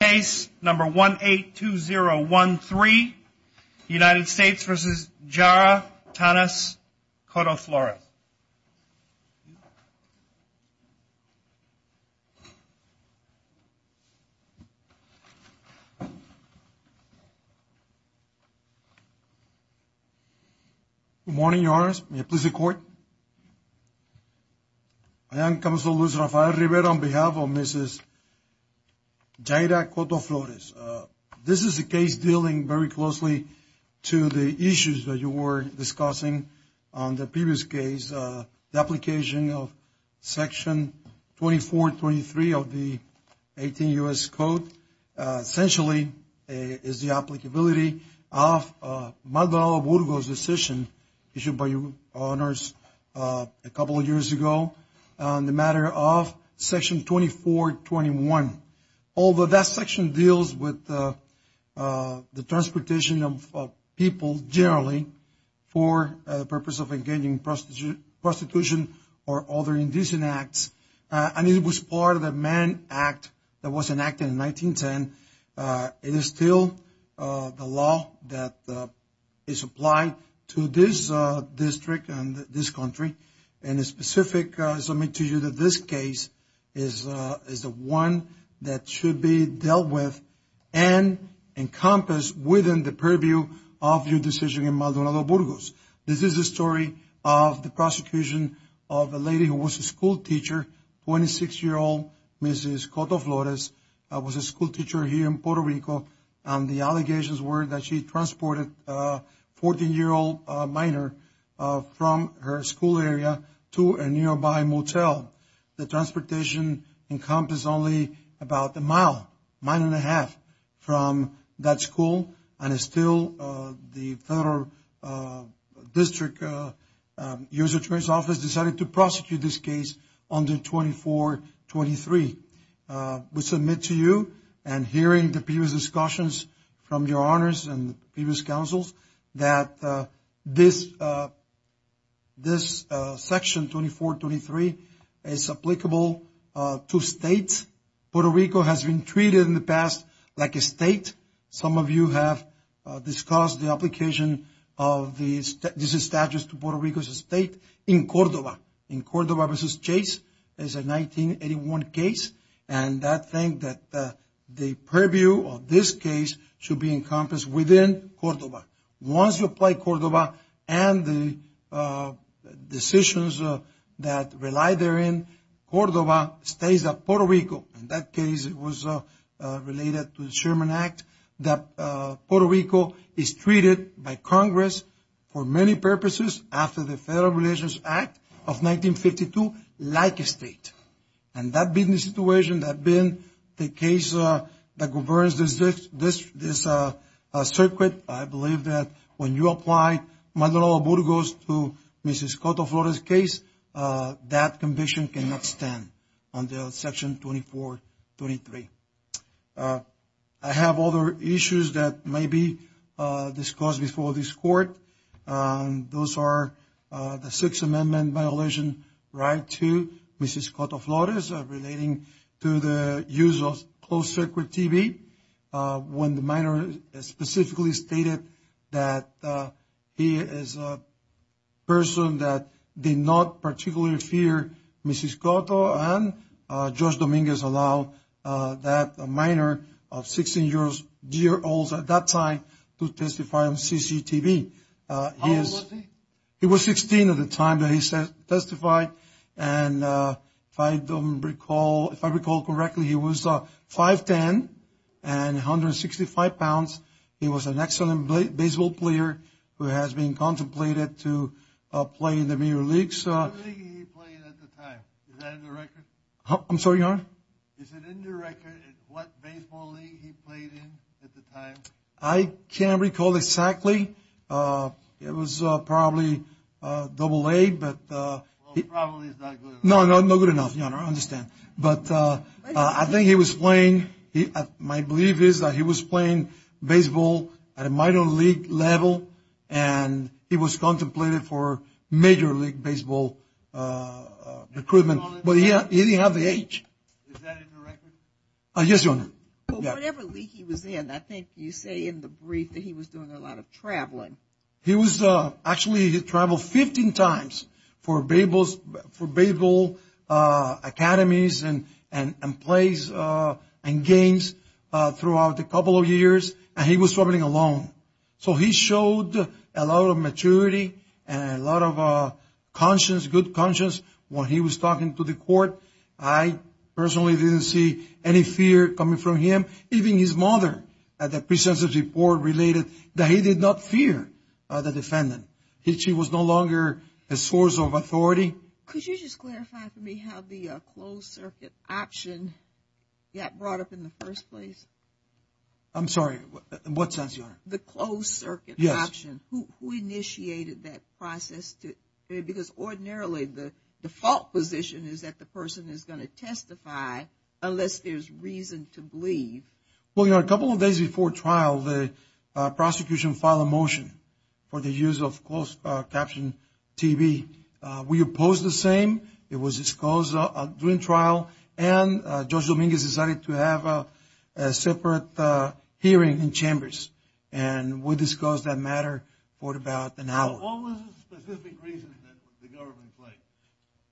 Case number 182013, United States v. Jara, Tanis, Cotto-Flores. Good morning, Your Honors. May I please see the Court? I am Counselor Luis Rafael Rivera on behalf of Mrs. Jara Cotto-Flores. This is a case dealing very closely to the issues that you were discussing on the previous case. The application of Section 2423 of the 18 U.S. Code essentially is the applicability of Magdalena Burgo's decision issued by Your Honors a couple of years ago on the matter of Section 2421. Although that section deals with the transportation of people generally for the purpose of engaging in prostitution or other indecent acts, and it was part of the Mann Act that was enacted in 1910, it is still the law that is applied to this district and this country, and it's specific to you that this case is the one that should be dealt with and encompassed within the purview of your decision in Magdalena Burgos. This is the story of the prosecution of a lady who was a schoolteacher, 26-year-old Mrs. Cotto-Flores, was a schoolteacher here in Puerto Rico, and the allegations were that she transported a 14-year-old minor from her school area to a nearby motel. The transportation encompassed only about a mile, mile and a half, from that school, and still the Federal District U.S. Attorney's Office decided to prosecute this case under 2423. We submit to you and hearing the previous discussions from your honors and previous counsels that this Section 2423 is applicable to states. Puerto Rico has been treated in the past like a state. Some of you have discussed the application of these statutes to Puerto Rico as a state in Cordoba. This case is a 1981 case, and I think that the purview of this case should be encompassed within Cordoba. Once you apply Cordoba and the decisions that rely therein, Cordoba stays at Puerto Rico. In that case, it was related to the Sherman Act that Puerto Rico is treated by Congress for many purposes after the Federal Relations Act of 1952, like a state. And that being the situation, that being the case that governs this circuit, I believe that when you apply Maldonado-Burgos to Mrs. Coto-Flores' case, that conviction cannot stand under Section 2423. I have other issues that may be discussed before this Court. Those are the Sixth Amendment violation right to Mrs. Coto-Flores relating to the use of closed-circuit TV when the minor specifically stated that he is a person that did not particularly fear Mrs. Coto and Judge Dominguez allowed that minor of 16-year-olds at that time to testify on CCTV. How old was he? He was 16 at the time that he testified, and if I recall correctly, he was 5'10 and 165 pounds. He was an excellent baseball player who has been contemplated to play in the major leagues. What league did he play in at the time? Is that in the record? I'm sorry, Your Honor? Is it in the record what baseball league he played in at the time? I can't recall exactly. It was probably AA, but— Well, probably is not good enough. No, no, no good enough, Your Honor. I understand. But I think he was playing—my belief is that he was playing baseball at a minor league level, and he was contemplated for major league baseball recruitment, but he didn't have the age. Is that in the record? Yes, Your Honor. Well, whatever league he was in, I think you say in the brief that he was doing a lot of traveling. He was—actually, he traveled 15 times for baseball academies and plays and games throughout a couple of years, and he was traveling alone. So he showed a lot of maturity and a lot of conscience, good conscience. When he was talking to the court, I personally didn't see any fear coming from him. Even his mother at the pre-sensitive board related that he did not fear the defendant. She was no longer a source of authority. Could you just clarify for me how the closed circuit option got brought up in the first place? I'm sorry. What's that, Your Honor? The closed circuit option. Yes. Who initiated that process? Because ordinarily the default position is that the person is going to testify unless there's reason to believe. Well, Your Honor, a couple of days before trial, the prosecution filed a motion for the use of closed caption TV. We opposed the same. It was disclosed during trial, and Judge Dominguez decided to have a separate hearing in chambers, and we discussed that matter for about an hour. What was the specific reason that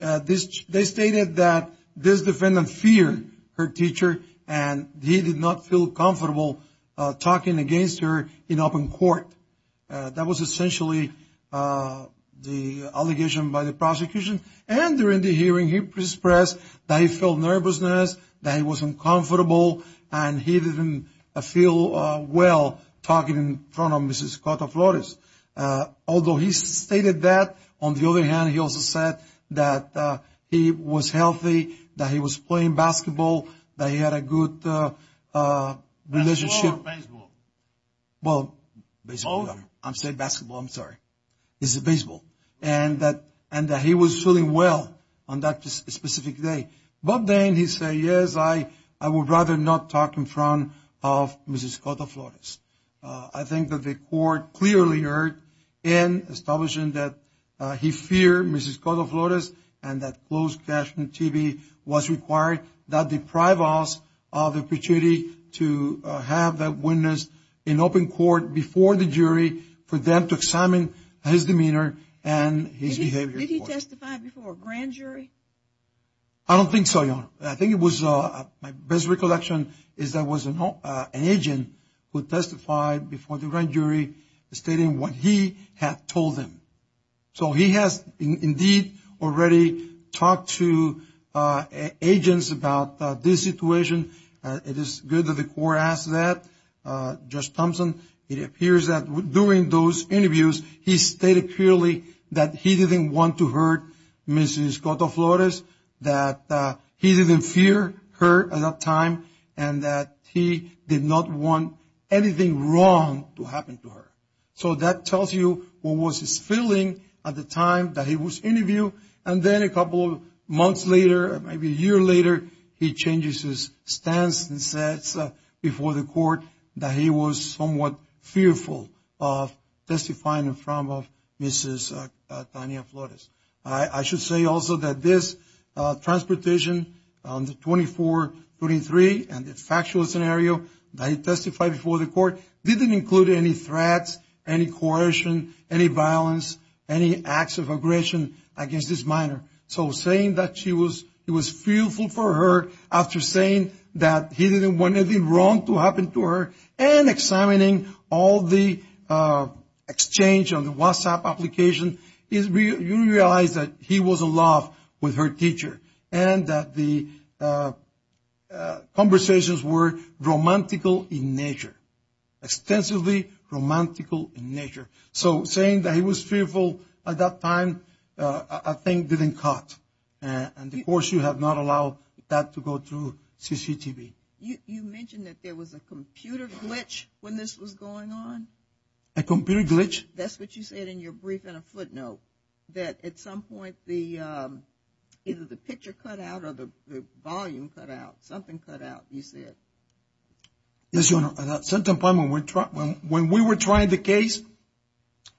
the government played? They stated that this defendant feared her teacher, and he did not feel comfortable talking against her in open court. That was essentially the allegation by the prosecution. And during the hearing, he expressed that he felt nervousness, that he was uncomfortable, and he didn't feel well talking in front of Mrs. Cota-Flores. Although he stated that, on the other hand, he also said that he was healthy, that he was playing basketball, that he had a good relationship. Baseball or baseball? Well, baseball. I'm saying basketball. I'm sorry. It's baseball. And that he was feeling well on that specific day. But then he said, yes, I would rather not talk in front of Mrs. Cota-Flores. I think that the court clearly heard in establishing that he feared Mrs. Cota-Flores and that closed caption TV was required. That deprived us of the opportunity to have that witness in open court before the jury for them to examine his demeanor and his behavior. Did he testify before a grand jury? I don't think so, Your Honor. I think it was my best recollection is that it was an agent who testified before the grand jury, stating what he had told them. So he has indeed already talked to agents about this situation. It is good that the court asked that. Judge Thompson, it appears that during those interviews, he stated clearly that he didn't want to hurt Mrs. Cota-Flores, that he didn't fear her at that time, and that he did not want anything wrong to happen to her. So that tells you what was his feeling at the time that he was interviewed. And then a couple of months later, maybe a year later, he changes his stance and says before the court that he was somewhat fearful of testifying in front of Mrs. Cota-Flores. I should say also that this transportation on the 24-23 and the factual scenario that he testified before the court didn't include any threats, any coercion, any violence, any acts of aggression against this minor. So saying that he was fearful for her after saying that he didn't want anything wrong to happen to her and examining all the exchange on the WhatsApp application, you realize that he was in love with her teacher and that the conversations were romantical in nature, extensively romantical in nature. So saying that he was fearful at that time, I think didn't cut. And of course, you have not allowed that to go through CCTV. You mentioned that there was a computer glitch when this was going on? A computer glitch? That's what you said in your brief and a footnote, that at some point either the picture cut out or the volume cut out, something cut out, you said. Yes, Your Honor. At that certain point when we were trying the case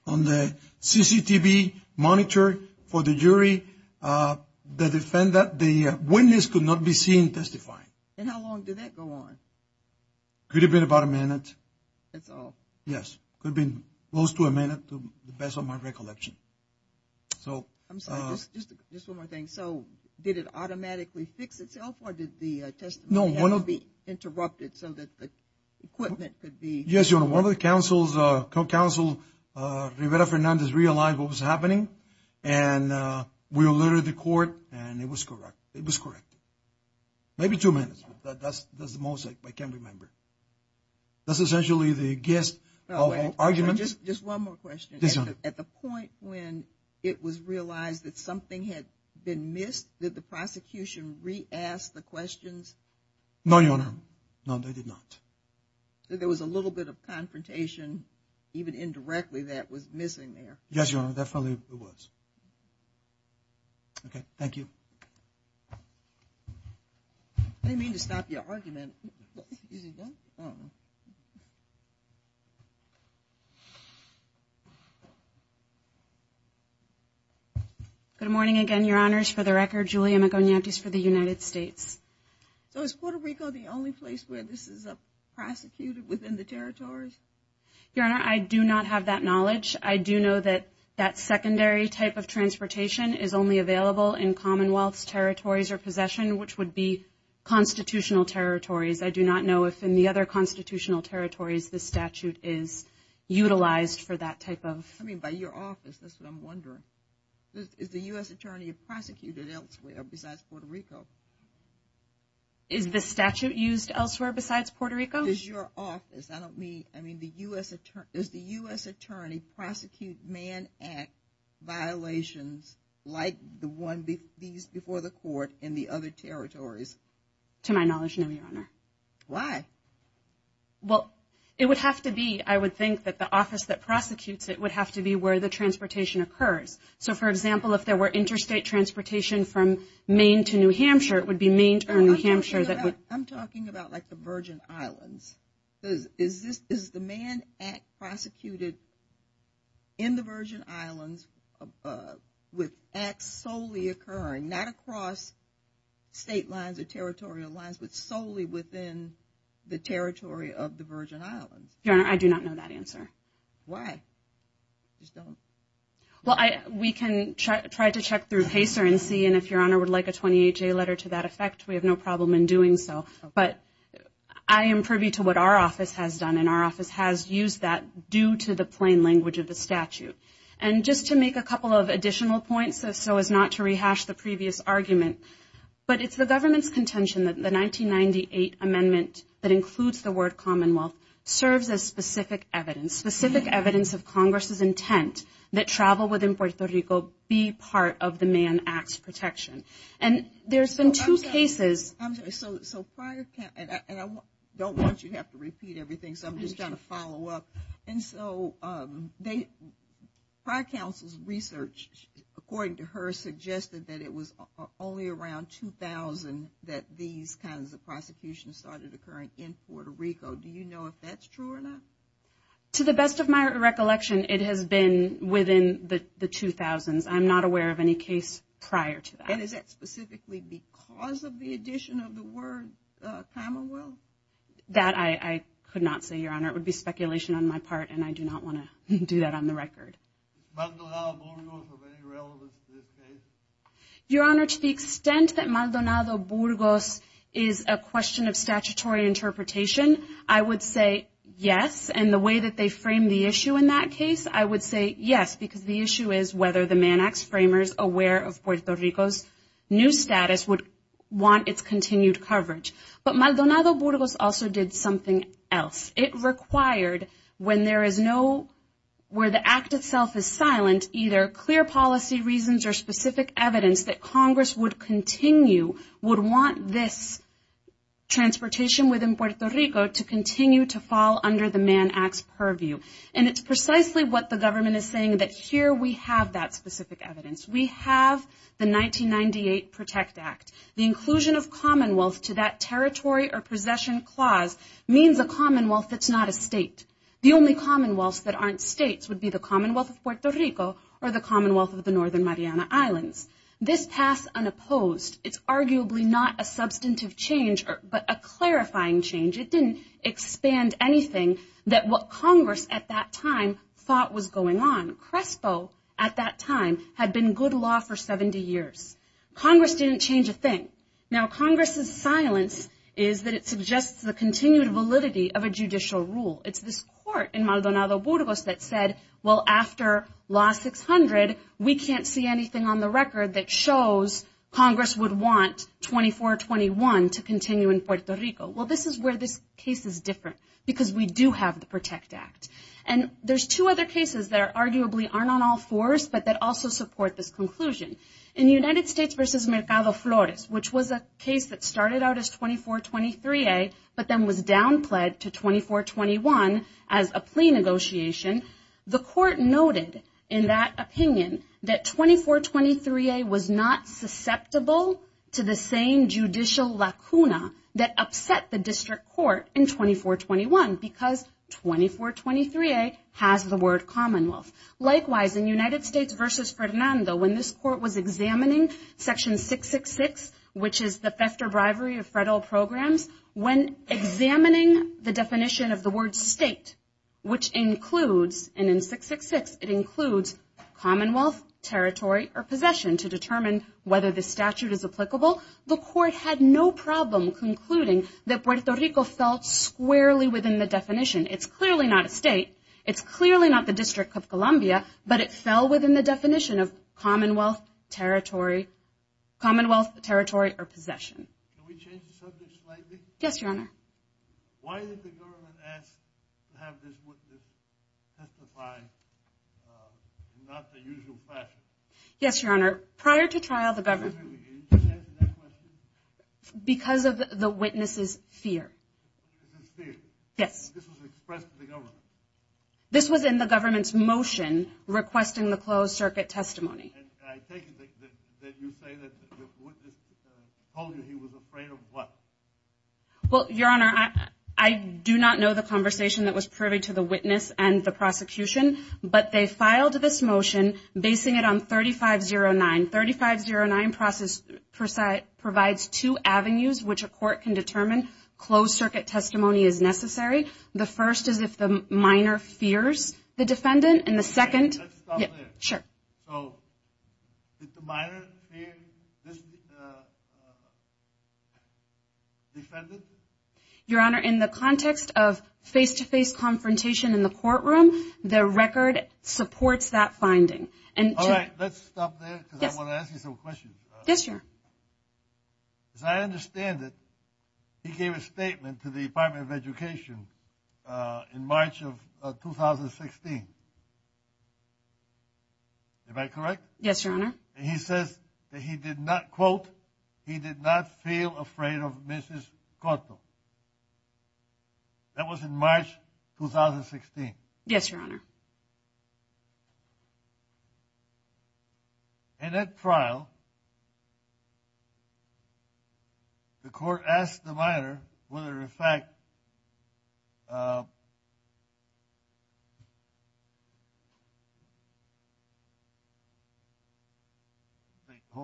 on the CCTV monitor for the jury, the witness could not be seen testifying. And how long did that go on? Could have been about a minute. That's all? Yes. Could have been close to a minute to the best of my recollection. I'm sorry, just one more thing. So did it automatically fix itself or did the testimony have to be interrupted so that the equipment could be? Yes, Your Honor. One of the counsels, Rivera Fernandez, realized what was happening and we alerted the court and it was correct. It was correct. Maybe two minutes, but that's the most I can remember. That's essentially the gist of arguments. Just one more question. Yes, Your Honor. At the point when it was realized that something had been missed, did the prosecution re-ask the questions? No, Your Honor. No, they did not. So there was a little bit of confrontation, even indirectly, that was missing there. Yes, Your Honor, definitely it was. Okay, thank you. What do you mean to stop your argument? Is it done? I don't know. Good morning again, Your Honors. For the record, Julia Maconiatis for the United States. So is Puerto Rico the only place where this is prosecuted within the territories? Your Honor, I do not have that knowledge. I do know that that secondary type of transportation is only available in commonwealths, territories, or possession, which would be constitutional territories. I do not know if in the other constitutional territories the statute is utilized for that type of. I mean, by your office, that's what I'm wondering. Is the U.S. attorney prosecuted elsewhere besides Puerto Rico? Is the statute used elsewhere besides Puerto Rico? It's your office. I don't mean the U.S. attorney. Does the U.S. attorney prosecute man act violations like the one before the court in the other territories? To my knowledge, no, Your Honor. Why? Well, it would have to be, I would think, that the office that prosecutes it would have to be where the transportation occurs. So, for example, if there were interstate transportation from Maine to New Hampshire, it would be Maine to New Hampshire. I'm talking about like the Virgin Islands. Is the man act prosecuted in the Virgin Islands with acts solely occurring, not across state lines or territorial lines, but solely within the territory of the Virgin Islands? Your Honor, I do not know that answer. Why? Well, we can try to check through PACER and see, and if Your Honor would like a 28-day letter to that effect, we have no problem in doing so. But I am privy to what our office has done, and our office has used that due to the plain language of the statute. And just to make a couple of additional points, so as not to rehash the previous argument, but it's the government's contention that the 1998 amendment that includes the word Commonwealth serves as specific evidence, specific evidence of Congress's intent that travel within Puerto Rico be part of the man acts protection. And there's been two cases. I'm sorry, so prior, and I don't want you to have to repeat everything, so I'm just trying to follow up. And so prior counsel's research, according to her, suggested that it was only around 2000 that these kinds of prosecutions started occurring in Puerto Rico. Do you know if that's true or not? To the best of my recollection, it has been within the 2000s. I'm not aware of any case prior to that. And is that specifically because of the addition of the word Commonwealth? That I could not say, Your Honor. It would be speculation on my part, and I do not want to do that on the record. Is Maldonado-Burgos of any relevance to this case? Your Honor, to the extent that Maldonado-Burgos is a question of statutory interpretation, I would say yes. And the way that they frame the issue in that case, I would say yes, because the issue is whether the Mann Acts framers, aware of Puerto Rico's new status, would want its continued coverage. But Maldonado-Burgos also did something else. It required when there is no, where the act itself is silent, either clear policy reasons or specific evidence that Congress would continue, would want this transportation within Puerto Rico to continue to fall under the Mann Acts purview. And it's precisely what the government is saying, that here we have that specific evidence. We have the 1998 Protect Act. The inclusion of Commonwealth to that territory or possession clause means a Commonwealth that's not a state. The only commonwealths that aren't states would be the Commonwealth of Puerto Rico or the Commonwealth of the Northern Mariana Islands. This passed unopposed. It's arguably not a substantive change, but a clarifying change. It didn't expand anything that what Congress at that time thought was going on. CRESPO at that time had been good law for 70 years. Congress didn't change a thing. Now Congress's silence is that it suggests the continued validity of a judicial rule. It's this court in Maldonado-Burgos that said, well, after Law 600, we can't see anything on the record that shows Congress would want 2421 to continue in Puerto Rico. Well, this is where this case is different because we do have the Protect Act. And there's two other cases that arguably aren't on all fours but that also support this conclusion. In United States v. Mercado Flores, which was a case that started out as 2423A but then was down-pledged to 2421 as a plea negotiation, the court noted in that opinion that 2423A was not susceptible to the same conditions at the district court in 2421 because 2423A has the word commonwealth. Likewise, in United States v. Fernando, when this court was examining Section 666, which is the theft or bribery of federal programs, when examining the definition of the word state, which includes, and in 666, it includes commonwealth, territory, or possession to determine whether the statute is applicable, the court had no problem concluding that Puerto Rico fell squarely within the definition. It's clearly not a state. It's clearly not the District of Columbia, but it fell within the definition of commonwealth, territory, or possession. Can we change the subject slightly? Yes, Your Honor. Why did the government ask to have this witness testify in not the usual fashion? Yes, Your Honor. Prior to trial, the government. Can you answer that question? Because of the witness's fear. His fear. Yes. This was expressed to the government. This was in the government's motion requesting the closed circuit testimony. And I take it that you say that the witness told you he was afraid of what? Well, Your Honor, I do not know the conversation that was privy to the witness and the process provides two avenues which a court can determine closed circuit testimony is necessary. The first is if the minor fears the defendant. And the second. Let's stop there. Sure. So did the minor fear this defendant? Your Honor, in the context of face-to-face confrontation in the courtroom, the record supports that finding. All right. Let's stop there because I want to ask you some questions. Yes, Your Honor. As I understand it, he gave a statement to the Department of Education in March of 2016. Am I correct? Yes, Your Honor. And he says that he did not, quote, he did not feel afraid of Mrs. Corto. That was in March 2016. Yes, Your Honor. Thank you. In that trial, the court asked the minor whether, in fact, hold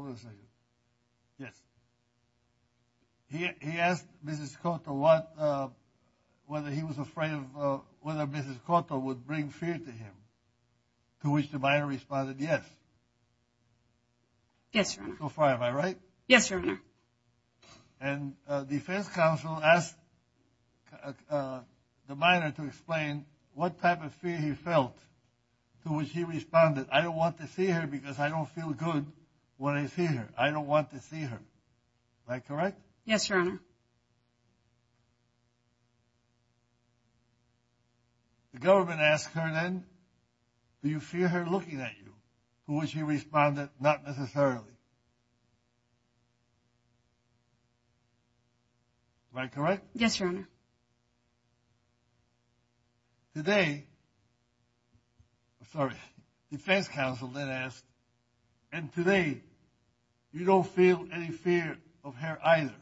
on a second. Yes. He asked Mrs. Corto whether he was afraid of, whether Mrs. Corto would bring fear to him, to which the minor responded yes. Yes, Your Honor. So far am I right? Yes, Your Honor. And defense counsel asked the minor to explain what type of fear he felt, to which he responded, I don't want to see her because I don't feel good when I see her. I don't want to see her. Am I correct? Yes, Your Honor. The government asked her then, do you fear her looking at you, to which he responded, not necessarily. Am I correct? Yes, Your Honor. Today, sorry, defense counsel then asked, and today you don't feel any fear of her either,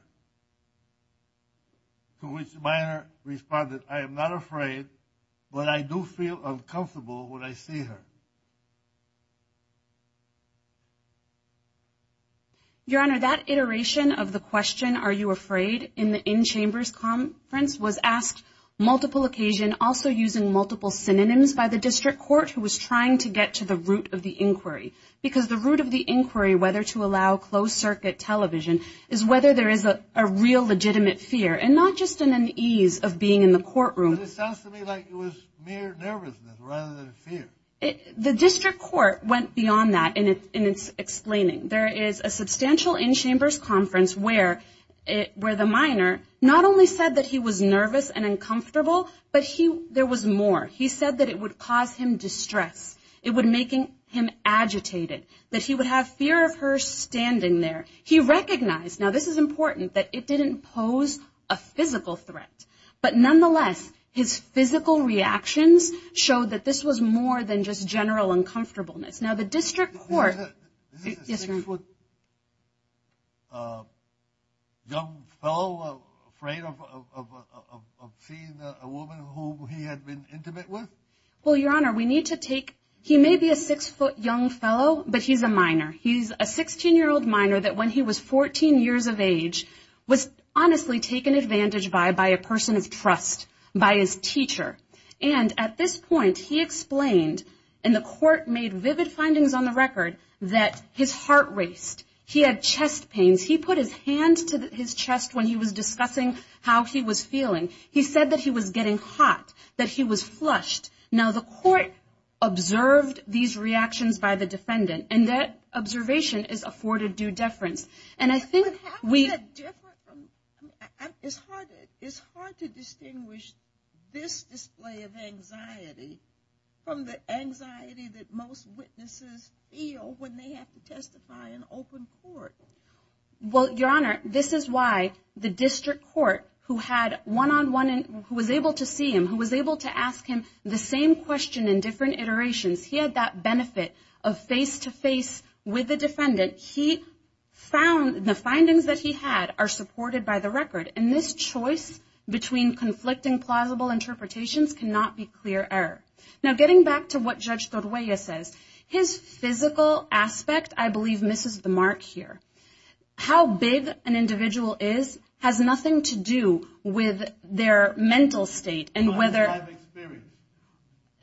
to which the minor responded, I am not afraid, but I do feel uncomfortable when I see her. Your Honor, that iteration of the question, are you afraid in the in-chambers conference, was asked multiple occasions also using multiple synonyms by the district court who was trying to get to the root of the inquiry, because the root of the inquiry, whether to allow closed circuit television, is whether there is a real legitimate fear, and not just in an ease of being in the courtroom. It sounds to me like it was mere nervousness rather than fear. The district court went beyond that in its explaining. There is a substantial in-chambers conference where the minor not only said that he was nervous and uncomfortable, but there was more. He said that it would cause him distress. It would make him agitated, that he would have fear of her standing there. He recognized, now this is important, that it didn't pose a physical threat. But nonetheless, his physical reactions showed that this was more than just general uncomfortableness. Now the district court. Is this a six-foot young fellow afraid of seeing a woman whom he had been intimate with? Well, Your Honor, we need to take, he may be a six-foot young fellow, but he's a minor. He's a 16-year-old minor that when he was 14 years of age was honestly taken advantage by by a person of trust, by his teacher. And at this point he explained, and the court made vivid findings on the record, that his heart raced. He had chest pains. He put his hands to his chest when he was discussing how he was feeling. He said that he was getting hot, that he was flushed. Now the court observed these reactions by the defendant, and that observation is afforded due deference. It's hard to distinguish this display of anxiety from the anxiety that most witnesses feel when they have to testify in open court. Well, Your Honor, this is why the district court, who was able to see him, who was able to ask him the same question in different iterations, he had that benefit of face-to-face with the defendant. He found the findings that he had are supported by the record, and this choice between conflicting plausible interpretations cannot be clear error. Now getting back to what Judge Torruella says, his physical aspect, I believe, misses the mark here. How big an individual is has nothing to do with their mental state.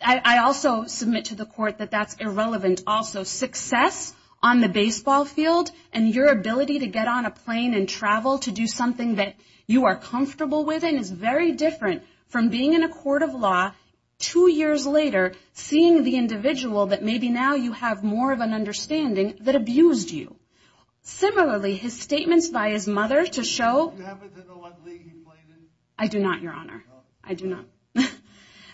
I also submit to the court that that's irrelevant also. Your success on the baseball field and your ability to get on a plane and travel to do something that you are comfortable with and is very different from being in a court of law two years later, seeing the individual that maybe now you have more of an understanding that abused you. Similarly, his statements by his mother to show... Do you happen to know what league he played in? I do not, Your Honor. I do not.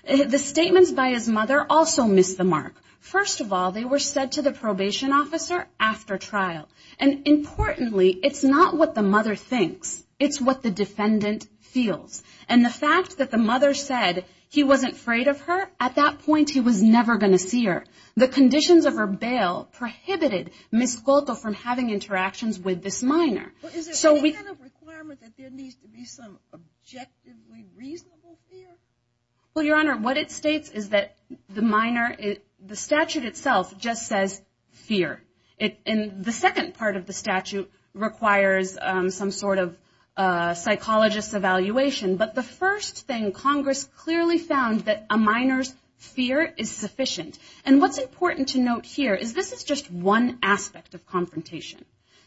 The statements by his mother also miss the mark. First of all, they were said to the probation officer after trial. And importantly, it's not what the mother thinks. It's what the defendant feels. And the fact that the mother said he wasn't afraid of her, at that point he was never going to see her. The conditions of her bail prohibited Ms. Skolko from having interactions with this minor. Is there any kind of requirement that there needs to be some objectively reasonable fear? Well, Your Honor, what it states is that the minor, the statute itself just says fear. And the second part of the statute requires some sort of psychologist's evaluation, but the first thing, Congress clearly found that a minor's fear is sufficient. And what's important to note here is this is just one aspect of confrontation,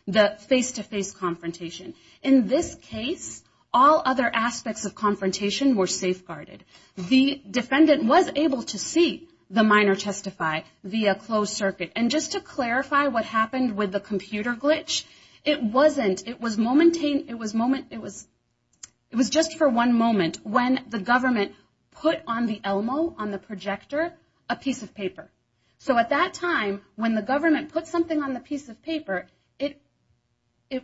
the face-to-face confrontation. In this case, all other aspects of confrontation were safeguarded. The defendant was able to see the minor testify via closed circuit. And just to clarify what happened with the computer glitch, it wasn't. It was just for one moment when the government put on the ELMO, on the projector, a piece of paper. So at that time, when the government put something on the piece of paper, it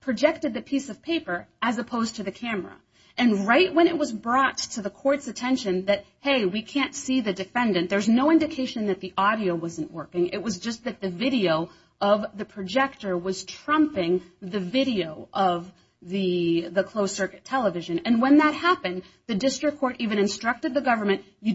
projected the piece of paper as opposed to the camera. And right when it was brought to the court's attention that, hey, we can't see the defendant, there's no indication that the audio wasn't working, it was just that the video of the projector was trumping the video of the closed circuit television. And when that happened, the district court even instructed the government, the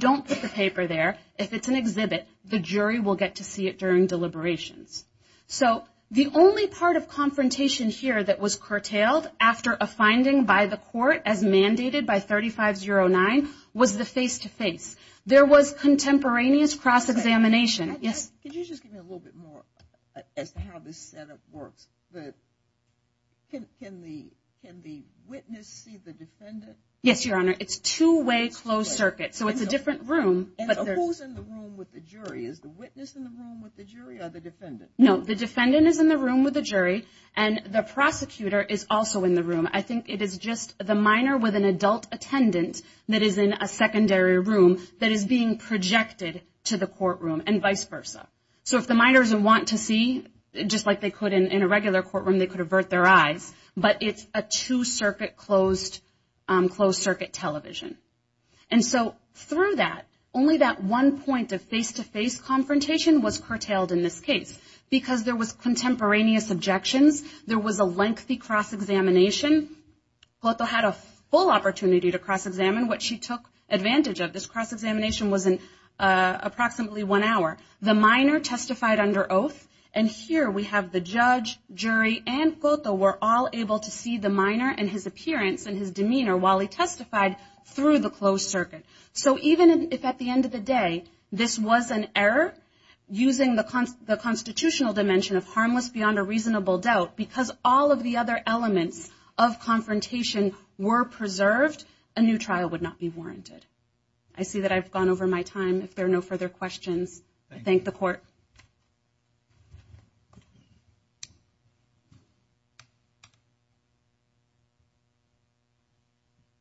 jury will get to see it during deliberations. So the only part of confrontation here that was curtailed after a finding by the court as mandated by 3509 was the face-to-face. There was contemporaneous cross-examination. Yes? Can you just give me a little bit more as to how this Senate works? Can the witness see the defendant? Yes, Your Honor. It's two-way closed circuit, so it's a different room. And who's in the room with the jury? Is the witness in the room with the jury or the defendant? No, the defendant is in the room with the jury, and the prosecutor is also in the room. I think it is just the minor with an adult attendant that is in a secondary room that is being projected to the courtroom and vice versa. So if the minors want to see, just like they could in a regular courtroom, they could avert their eyes, but it's a two-circuit closed circuit television. And so through that, only that one point of face-to-face confrontation was curtailed in this case. Because there was contemporaneous objections, there was a lengthy cross-examination. Cotto had a full opportunity to cross-examine, which he took advantage of. This cross-examination was in approximately one hour. The minor testified under oath, and here we have the judge, jury, and Cotto were all able to see the minor and his appearance and his demeanor while he testified through the closed circuit. So even if at the end of the day this was an error, using the constitutional dimension of harmless beyond a reasonable doubt, because all of the other elements of confrontation were preserved, a new trial would not be warranted. I see that I've gone over my time. If there are no further questions, I thank the court. Thank you.